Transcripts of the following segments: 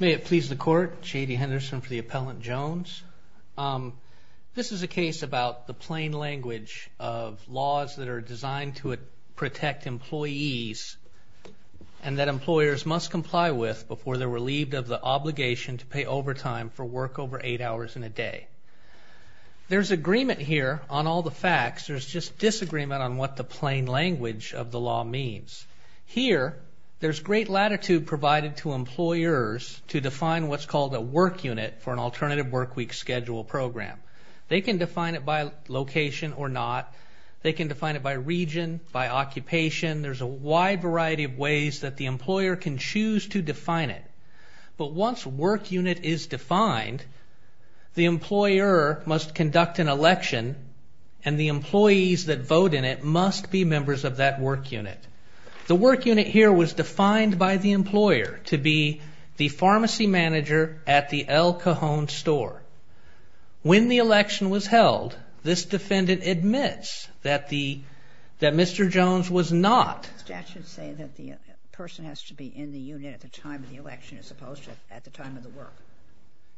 May it please the Court, J.D. Henderson for the Appellant Jones. This is a case about the plain language of laws that are designed to protect employees and that employers must comply with before they're relieved of the obligation to pay overtime for work over eight hours in a day. There's agreement here on all the facts, there's just disagreement on what the plain language of the law means. Here, there's great latitude provided to employers to define what's called a work unit for an alternative work week schedule program. They can define it by location or not, they can define it by region, by occupation, there's a wide variety of ways that the employer can choose to define it. But once work unit is defined, the employer must conduct an election and the employees that vote in it must be members of that work unit. The work unit here was defined by the employer to be the pharmacy manager at the El Cajon store. When the election was held, this defendant admits that the that Mr. Jones was not. Statutes say that the person has to be in the unit at the time of the election as opposed to at the time of the work.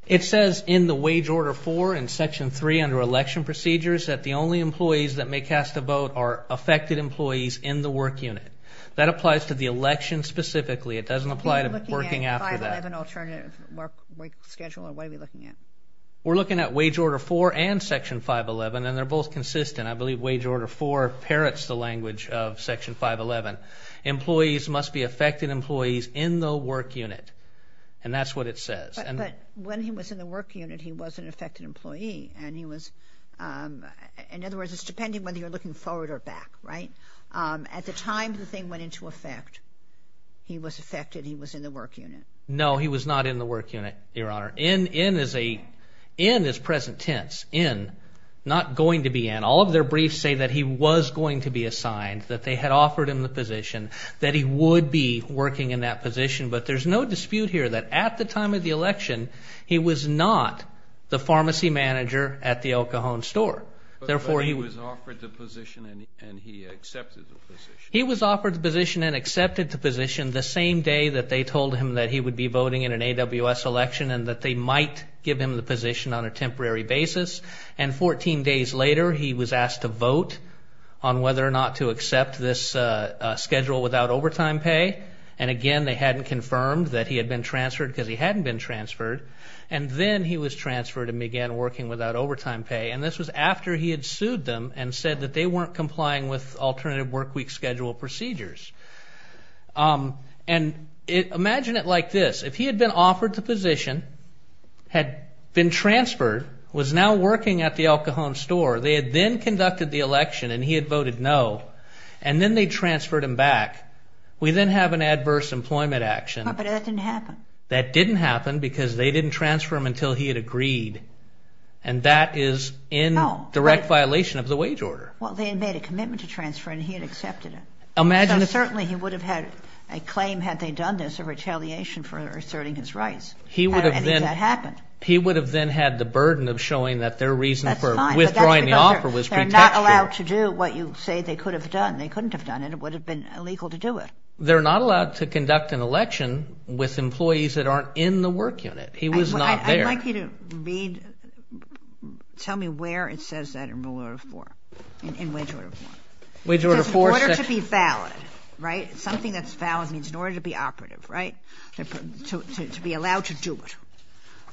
It says in the wage order 4 in section 3 under election procedures that the only employees that may cast a vote are affected employees in the work unit. That applies to the election specifically, it doesn't apply to working after that. We're looking at wage order 4 and section 511 and they're both consistent. I believe wage order 4 parrots the language of section 511. Employees must be affected employees in the work unit and that's what it says. But when he was in the work unit, he was an affected employee and he was, in other words, it's depending whether you're looking forward or back, right? At the time the thing went into effect, he was affected, he was in the work unit. No, he was not in the work unit, Your Honor. In is present tense. In, not going to be in. All of their briefs say that he was going to be assigned, that they had offered him the position, that he would be working in that position, but there's no dispute here that at the time of the election, he was not the pharmacy manager at the El Cajon store. Therefore, he was offered the position and he accepted the position. He was offered the position and accepted the position the same day that they told him that he would be voting in an AWS election and that they might give him the position on a temporary basis. And 14 days later, he was asked to vote on whether or not to accept this schedule without overtime pay. And again, they hadn't confirmed that he had been transferred because he hadn't been transferred. And then he was transferred and began working without overtime pay. And this was after he had sued them and said that they weren't complying with alternative workweek schedule procedures. And imagine it like this. If he had been offered the position, had been transferred, was now working at the El Cajon store, they had then conducted the election and he had voted no. And then they transferred him back. We then have an adverse employment action. But that didn't happen. That didn't happen because they didn't transfer him until he had agreed. And that is in direct violation of the wage order. Well, they had made a commitment to transfer and he had accepted it. Imagine if... Certainly, he would have had a claim had they done this, a retaliation for asserting his rights. He would have then... And that happened. He would have then had the burden of showing that their reason for withdrawing the offer was protection. They're not allowed to do what you say they could have done. They couldn't have done it. It would have been illegal to do it. They're not allowed to conduct an election with employees that aren't in the work unit. He was not there. I'd like you to read, tell me where it says that in Rule Order 4, in Wage Order 4. Wage Order 4... In order to be valid, right? Something that's valid means in order to be operative, right? To be allowed to do it.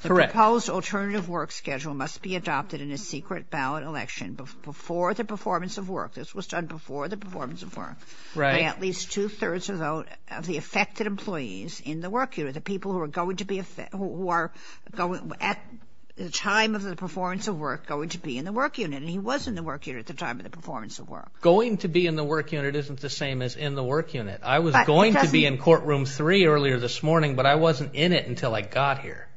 Correct. The proposed alternative work schedule must be adopted in a secret ballot election before the performance of work. This was done before the performance of work. Right. By at least two-thirds of the affected employees in the work unit. The people who are going to be affected, who are at the time of the performance of work going to be in the work unit. And he was in the work unit at the time of the performance of work. Going to be in the work unit isn't the same as in the work unit. I was going to be in courtroom 3 earlier this morning, but I wasn't in it until I got here.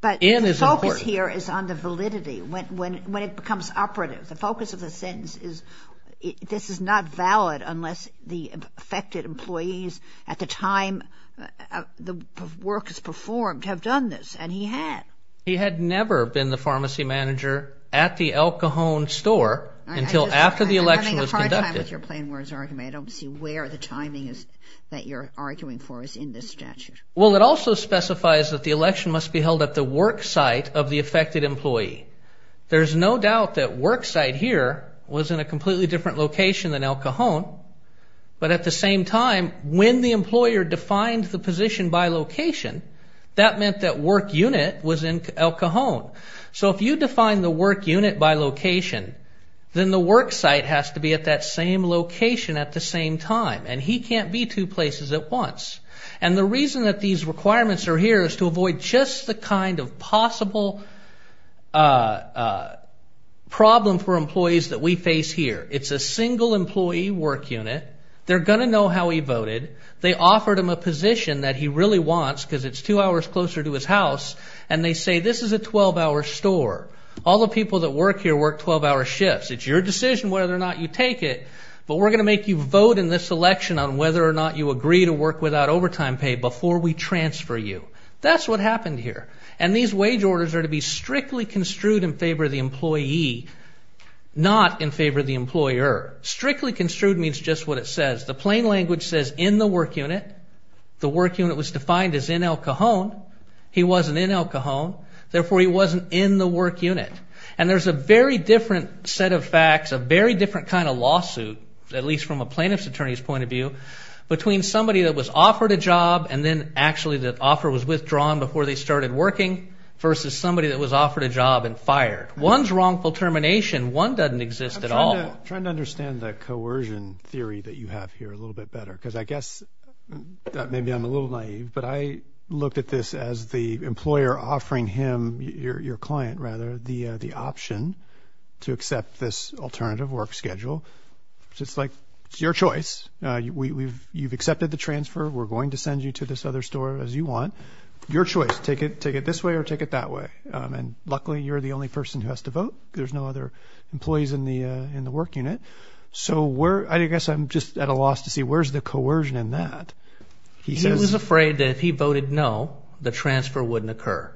But the focus here is on the validity. When it becomes operative, the focus of the sentence is, this is not valid unless the affected employees at the time the work is performed have done this. And he had. He had never been the pharmacy manager at the Al Cajon store until after the election was conducted. I'm having a hard time with your plain words argument. I don't see where the timing is that you're arguing for is in this statute. Well, it also specifies that the election must be held at the work site of the affected employee. There's no doubt that work site here was in a completely different location than Al Cajon. But at the same time, when the employer defined the position by location, that meant that work unit was in Al Cajon. So if you define the work unit by location, then the work site has to be at that same location at the same time. And he can't be two places at once. And the reason that these requirements are here is to avoid just the kind of possible problem for employees that we face here. It's a single employee work unit. They're going to know how he voted. They offered him a position that he really wants because it's two hours closer to his house. And they say this is a 12-hour store. All the people that work here work 12-hour shifts. It's your decision whether or not you take it. But we're going to make you vote in this election on whether or not you agree to work without overtime pay before we transfer you. That's what happened here. And these wage orders are to be strictly construed in favor of the employee, not in favor of the employer. Strictly construed means just what it says. The plain language says in the work unit. The work unit was defined as in Al Cajon. He wasn't in Al Cajon. Therefore, he wasn't in the work unit. And there's a very different set of facts, a very different kind of lawsuit, at least from a plaintiff's attorney's point of view, between somebody that was offered a job and then actually the offer was withdrawn before they started working versus somebody that was offered a job and fired. One's wrongful termination. One doesn't exist at all. I'm trying to understand the coercion theory that you have here a little bit better because I guess that maybe I'm a little naive, but I looked at this as the employer offering him, your client rather, the option to accept this alternative work schedule. It's like, it's your choice. You've accepted the transfer. We're going to send you to this other store as you want. Your choice. Take it this way or take it that way. And luckily, you're the only person who has to vote. There's no other employees in the work unit. So I guess I'm just at a loss to see where's the coercion in that. He was afraid that if he didn't, it wouldn't occur.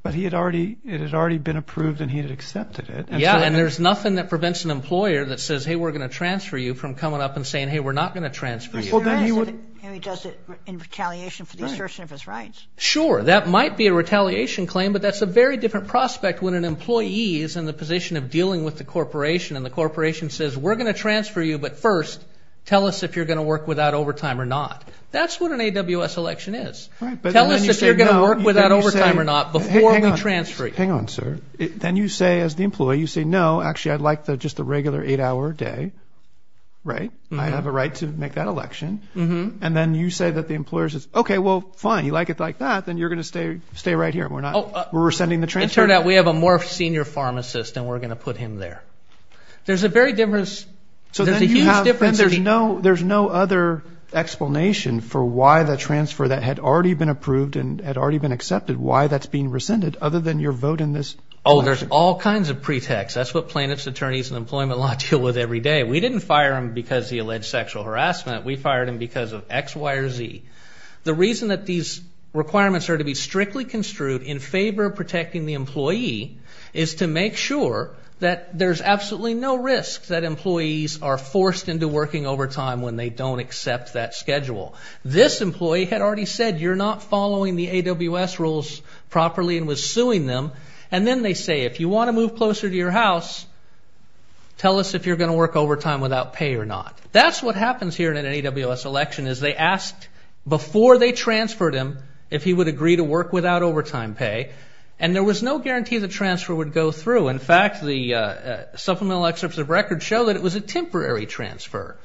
But it had already been approved and he had accepted it. Yeah, and there's nothing that prevents an employer that says, hey, we're going to transfer you from coming up and saying, hey, we're not going to transfer you. He does it in retaliation for the assertion of his rights. Sure. That might be a retaliation claim, but that's a very different prospect when an employee is in the position of dealing with the corporation and the corporation says, we're going to transfer you, but first, tell us if you're going to work without overtime or not. That's what an AWS election is. Tell us if you're going to work without overtime or not before we transfer you. Hang on, sir. Then you say as the employee, you say, no, actually, I'd like the just the regular eight hour day. Right. I have a right to make that election. And then you say that the employer says, OK, well, fine. You like it like that, then you're going to stay right here. We're not. We're sending the transfer. It turned out we have a more senior pharmacist and we're going to put him there. There's a very difference. So there's no other explanation for why the transfer that had already been approved and had already been accepted, why that's being rescinded other than your vote in this. Oh, there's all kinds of pretext. That's what plaintiffs, attorneys and employment law deal with every day. We didn't fire him because he alleged sexual harassment. We fired him because of X, Y or Z. The reason that these requirements are to be strictly construed in favor of protecting the employee is to make sure that there's absolutely no risk that employees are forced into working overtime when they don't accept that they're not following the AWS rules properly and was suing them. And then they say, if you want to move closer to your house, tell us if you're going to work overtime without pay or not. That's what happens here in an AWS election is they asked before they transferred him if he would agree to work without overtime pay. And there was no guarantee the transfer would go through. In fact, the supplemental excerpts of record show that it was a temporary transfer.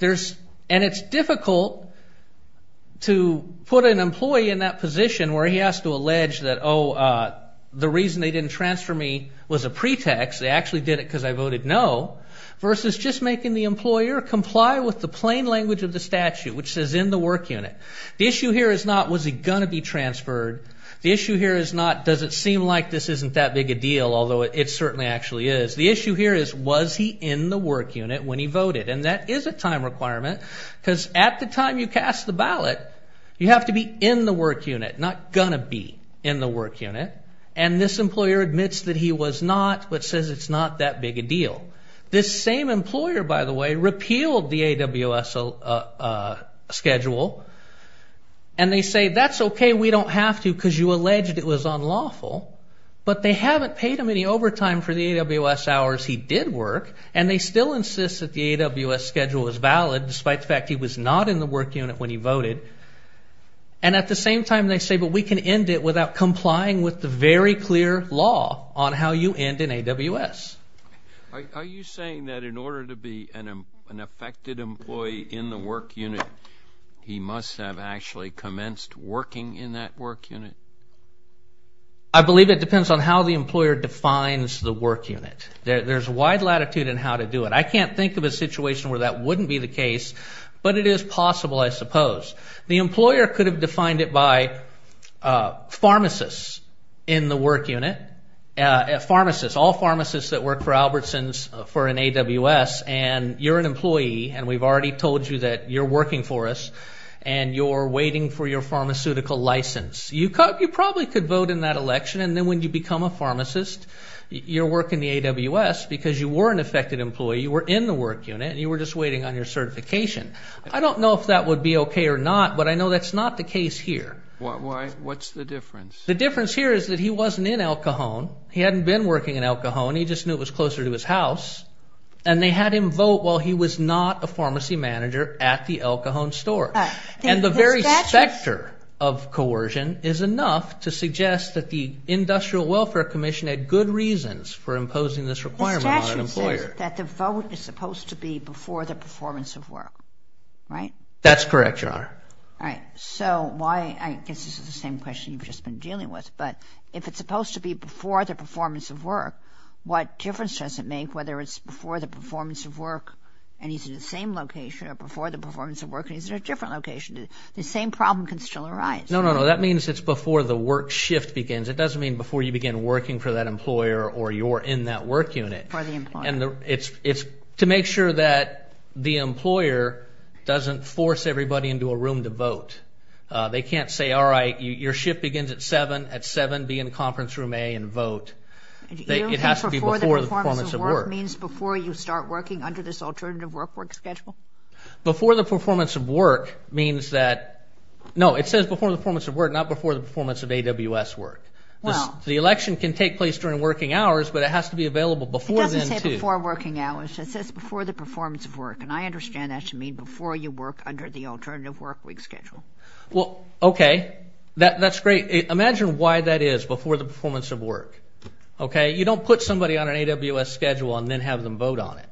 And it's difficult to put an employee in that position where he has to allege that, oh, the reason they didn't transfer me was a pretext. They actually did it because I voted no versus just making the employer comply with the plain language of the statute, which says in the work unit. The issue here is not was he going to be transferred. The issue here is not does it seem like this isn't that big a deal, although it certainly actually is. The issue here is was he in the work unit when he voted. And that is a time requirement because at the time you cast the ballot, you have to be in the work unit, not going to be in the work unit. And this employer admits that he was not, but says it's not that big a deal. This same employer, by the way, repealed the AWS schedule. And they say, that's okay. We don't have to because you alleged it was unlawful. But they haven't paid him any overtime for the AWS hours he did work. And they still insist that the AWS schedule is valid, despite the fact he was not in the work unit when he voted. And at the same time, they say, but we can end it without complying with the very clear law on how you end in AWS. Are you saying that in order to be an affected employee in the work unit, he must have actually commenced working in that work unit? I believe it depends on how the employer defines the work unit. There's a wide latitude in how to do it. I can't think of a situation where that wouldn't be the case. But it is possible, I suppose. The employer could have defined it by pharmacists in the work unit. Pharmacists, all pharmacists that work for Albertsons for an AWS. And you're an employee, and we've already told you that you're working for us. And you're waiting for your pharmaceutical license. You probably could vote in that election. And then when you become a pharmacist, you're working the AWS because you were an affected employee. You were in the work unit, and you were just waiting on your certification. I don't know if that would be okay or not, but I know that's not the case here. What's the difference? The difference here is that he wasn't in El Cajon. He hadn't been working in El Cajon. He just knew it was closer to his house. And they had him vote while he was not a pharmacy manager at the El Cajon store. And the very sector of coercion is enough to suggest that the Industrial Welfare Commission had good reasons for imposing this requirement on an employer. The statute says that the vote is supposed to be before the performance of work, right? That's correct, Your Honor. All right. So why, I guess this is the same question you've just been dealing with, but if it's supposed to be before the performance of work, what difference does it make whether it's before the performance of work and he's in the same location or before the performance of work and he's in a different location? The same problem can still arise. No, no, no. That means it's before the work shift begins. It doesn't mean before you begin working for that employer or you're in that work unit. For the employer. And it's to make sure that the employer doesn't force everybody into a room to vote. They can't say, all right, your shift begins at 7, at 7 be in conference room A and vote. It has to be before the performance of work. Means before you start working under this alternative work work schedule? Before the performance of work means that, no, it says before the performance of work, not before the performance of AWS work. The election can take place during working hours, but it has to be available before then too. It doesn't say before working hours. It says before the performance of work. And I understand that to mean before you work under the alternative work week schedule. Well, okay. That's great. Imagine why that is, before the performance of work. Okay. You don't put somebody on an AWS schedule and then have them vote on it.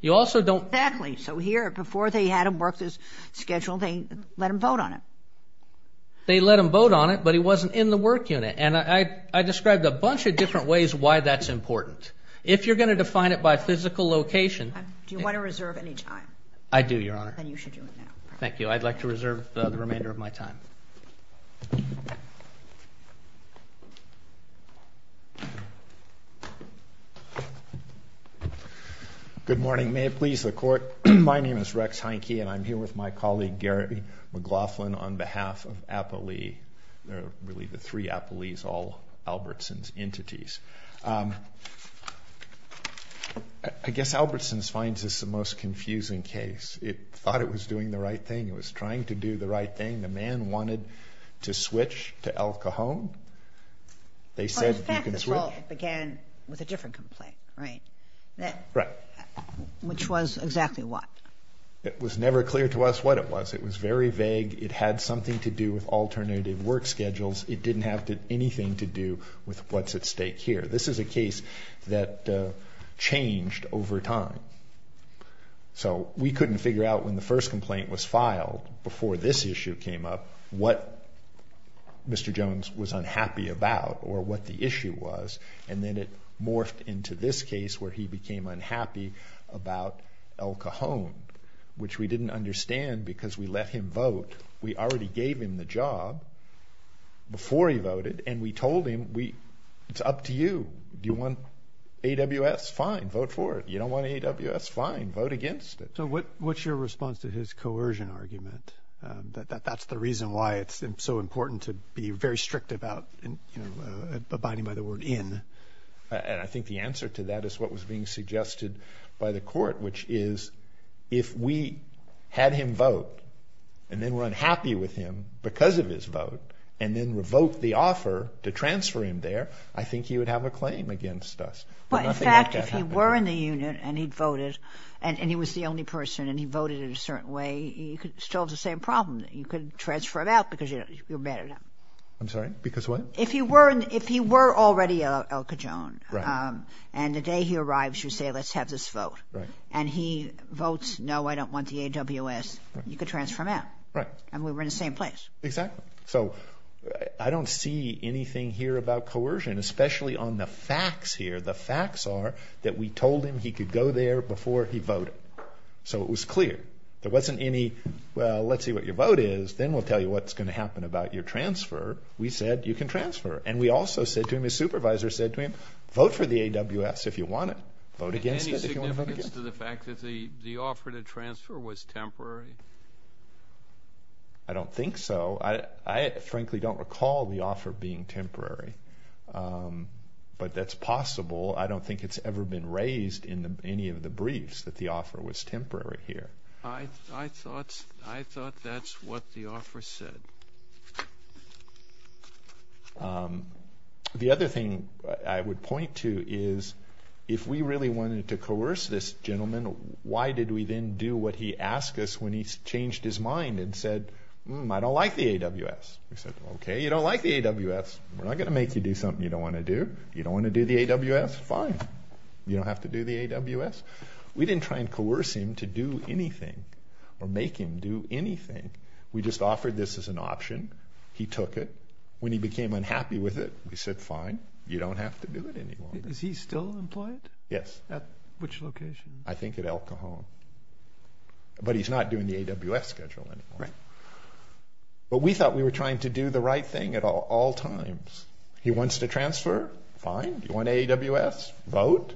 You also don't. Exactly. So here, before they had him work this schedule, they let him vote on it. They let him vote on it, but he wasn't in the work unit. And I described a bunch of different ways why that's important. If you're going to define it by physical location. Do you want to reserve any time? I do, Your Honor. Then you should do it now. Thank you. I'd like to reserve the remainder of my time. Good morning. May it please the Court. My name is Rex Heineke, and I'm here with my colleague, Gary McLaughlin, on behalf of Apo Lee. They're really the three Apo Lees, all Albertson's entities. I guess Albertson's finds this the most confusing case. It thought it was doing the right thing. It was trying to do the right thing. The man wanted to switch to Al Cajon. They said you can switch. Well, in fact, the trial began with a different complaint, right? Right. Which was exactly what? It was never clear to us what it was. It was very vague. It had something to do with alternative work schedules. It didn't have anything to do with what's at stake here. This is a case that changed over time. So we couldn't figure out when the first complaint was filed, before this issue came up, what Mr. Jones was unhappy about or what the issue was. And then it morphed into this case where he became unhappy about Al Cajon, which we didn't understand because we let him vote. We already gave him the job before he voted, and we told him it's up to you. Do you want AWS? Fine. Vote for it. You don't want AWS? Fine. Vote against it. So what's your response to his coercion argument, that that's the reason why it's so important to be very strict about abiding by the word in? And I think the answer to that is what was being suggested by the court, which is if we had him vote and then were unhappy with him because of his vote and then revoked the offer to transfer him there, I think he would have a claim against us. But in fact, if he were in the unit and he'd voted, and he was the only person and he voted in a certain way, you could still have the same problem. You could transfer him out because you're mad at him. I'm sorry, because what? If he were already Al Cajon and the day he arrives, you say, let's have this vote. And he votes, no, I don't want the AWS, you could transfer him out. Right. And we were in the same place. Exactly. So I don't see anything here about coercion, especially on the facts here. The facts are that we told him he could go there before he voted. So it was clear. There wasn't any, well, let's see what your vote is, then we'll tell you what's going to happen about your transfer. We said you can transfer. And we also said to him, his supervisor said to him, vote for the AWS if you want it. Vote against it if you want to vote against it. Any significance to the fact that the offer to transfer was temporary? I don't think so. I frankly don't recall the offer being temporary, but that's possible. I don't think it's ever been raised in any of the briefs that the offer was temporary here. I thought that's what the offer said. The other thing I would point to is if we really wanted to coerce this gentleman, why did we then do what he asked us when he changed his mind and said, hmm, I don't like the AWS? We said, okay, you don't like the AWS, we're not going to make you do something you don't want to do. You don't want to do the AWS, fine. You don't have to do the AWS. We didn't try and coerce him to do anything or make him do anything. We just offered this as an option. He took it. When he became unhappy with it, we said, fine, you don't have to do it anymore. Is he still employed? Yes. At which location? I think at El Cajon. But he's not doing the AWS schedule anymore. Right. But we thought we were trying to do the right thing at all times. He wants to transfer, fine. You want AWS, vote.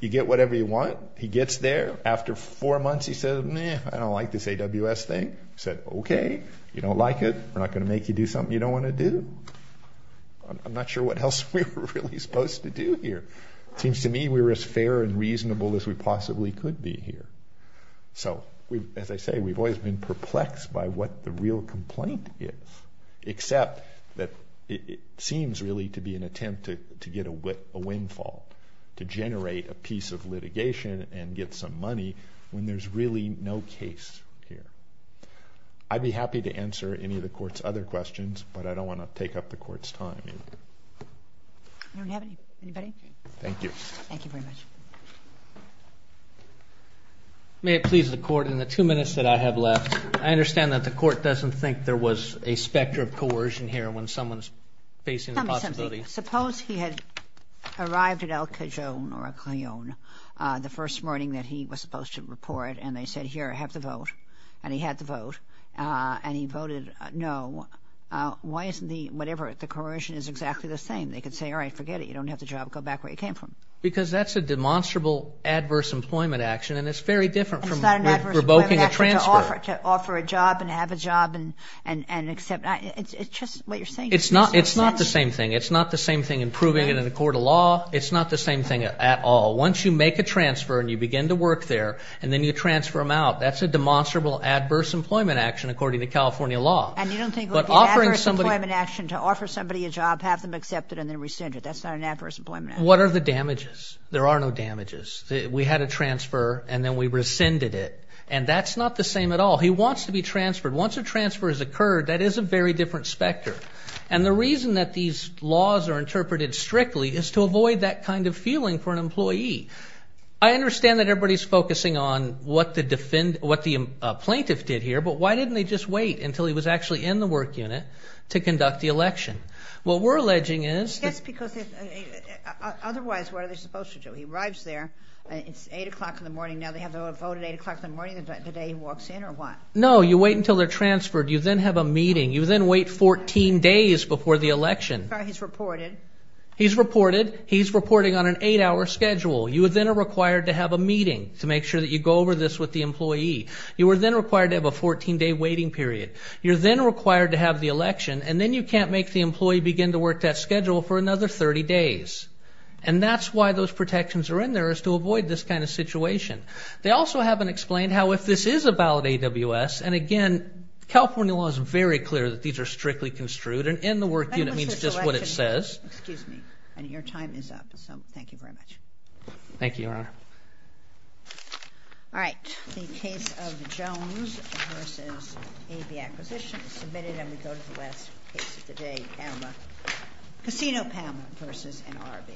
You get whatever you want. He gets there. After four months, he said, meh, I don't like this AWS thing. We said, okay, you don't like it, we're not going to make you do something you don't want to do. I'm not sure what else we were really supposed to do here. It seems to me we were as fair and reasonable as we possibly could be here. So, as I say, we've always been perplexed by what the real complaint is, except that it seems really to be an attempt to get a windfall, to generate a piece of litigation and get some money when there's really no case here. I'd be happy to answer any of the court's other questions, but I don't want to take up the court's time. Do we have anybody? Thank you. Thank you very much. May it please the court, in the two minutes that I have left, I understand that the court doesn't think there was a specter of coercion here when someone's facing the possibility. Suppose he had arrived at El Cajon or El Cajon the first morning that he was supposed to report, and they said, here, have the vote, and he had the vote, and he voted no. Why isn't the, whatever, the coercion is exactly the same? They could say, all right, forget it, you don't have the job, go back where you came from. Because that's a demonstrable adverse employment action, and it's very different from revoking a transfer. To offer a job and have a job and accept, it's just what you're saying. It's not the same thing. It's not the same thing in proving it in a court of law. It's not the same thing at all. Once you make a transfer and you begin to work there, and then you transfer them out, that's a demonstrable adverse employment action, according to California law. And you don't think it would be an adverse employment action to offer somebody a job, have them accept it, and then rescind it. That's not an adverse employment action. What are the damages? There are no damages. We had a transfer, and then we rescinded it, and that's not the same at all. He wants to be transferred. Once a transfer has occurred, that is a very different specter. And the reason that these laws are interpreted strictly is to avoid that kind of feeling for an employee. I understand that everybody's focusing on what the plaintiff did here, but why didn't they just wait until he was actually in the work unit to conduct the election? What we're alleging is- That's because otherwise, what are they supposed to do? He arrives there, it's 8 o'clock in the morning. Now they have the vote at 8 o'clock in the morning the day he walks in, or what? No, you wait until they're transferred. You then have a meeting. You then wait 14 days before the election. He's reported. He's reported. He's reporting on an eight-hour schedule. You then are required to have a meeting to make sure that you go over this with the employee. You are then required to have a 14-day waiting period. You're then required to have the election, and then you can't make the employee begin to work that schedule for another 30 days. And that's why those protections are in there, is to avoid this kind of situation. They also haven't explained how if this is a valid AWS, and again, California law is very clear that these are strictly construed, and in the work unit means just what it says. Excuse me. Your time is up, so thank you very much. Thank you, Your Honor. All right. The case of Jones versus AB Acquisition is submitted, and we go to the last case of the day, Casino Palmer versus NRB.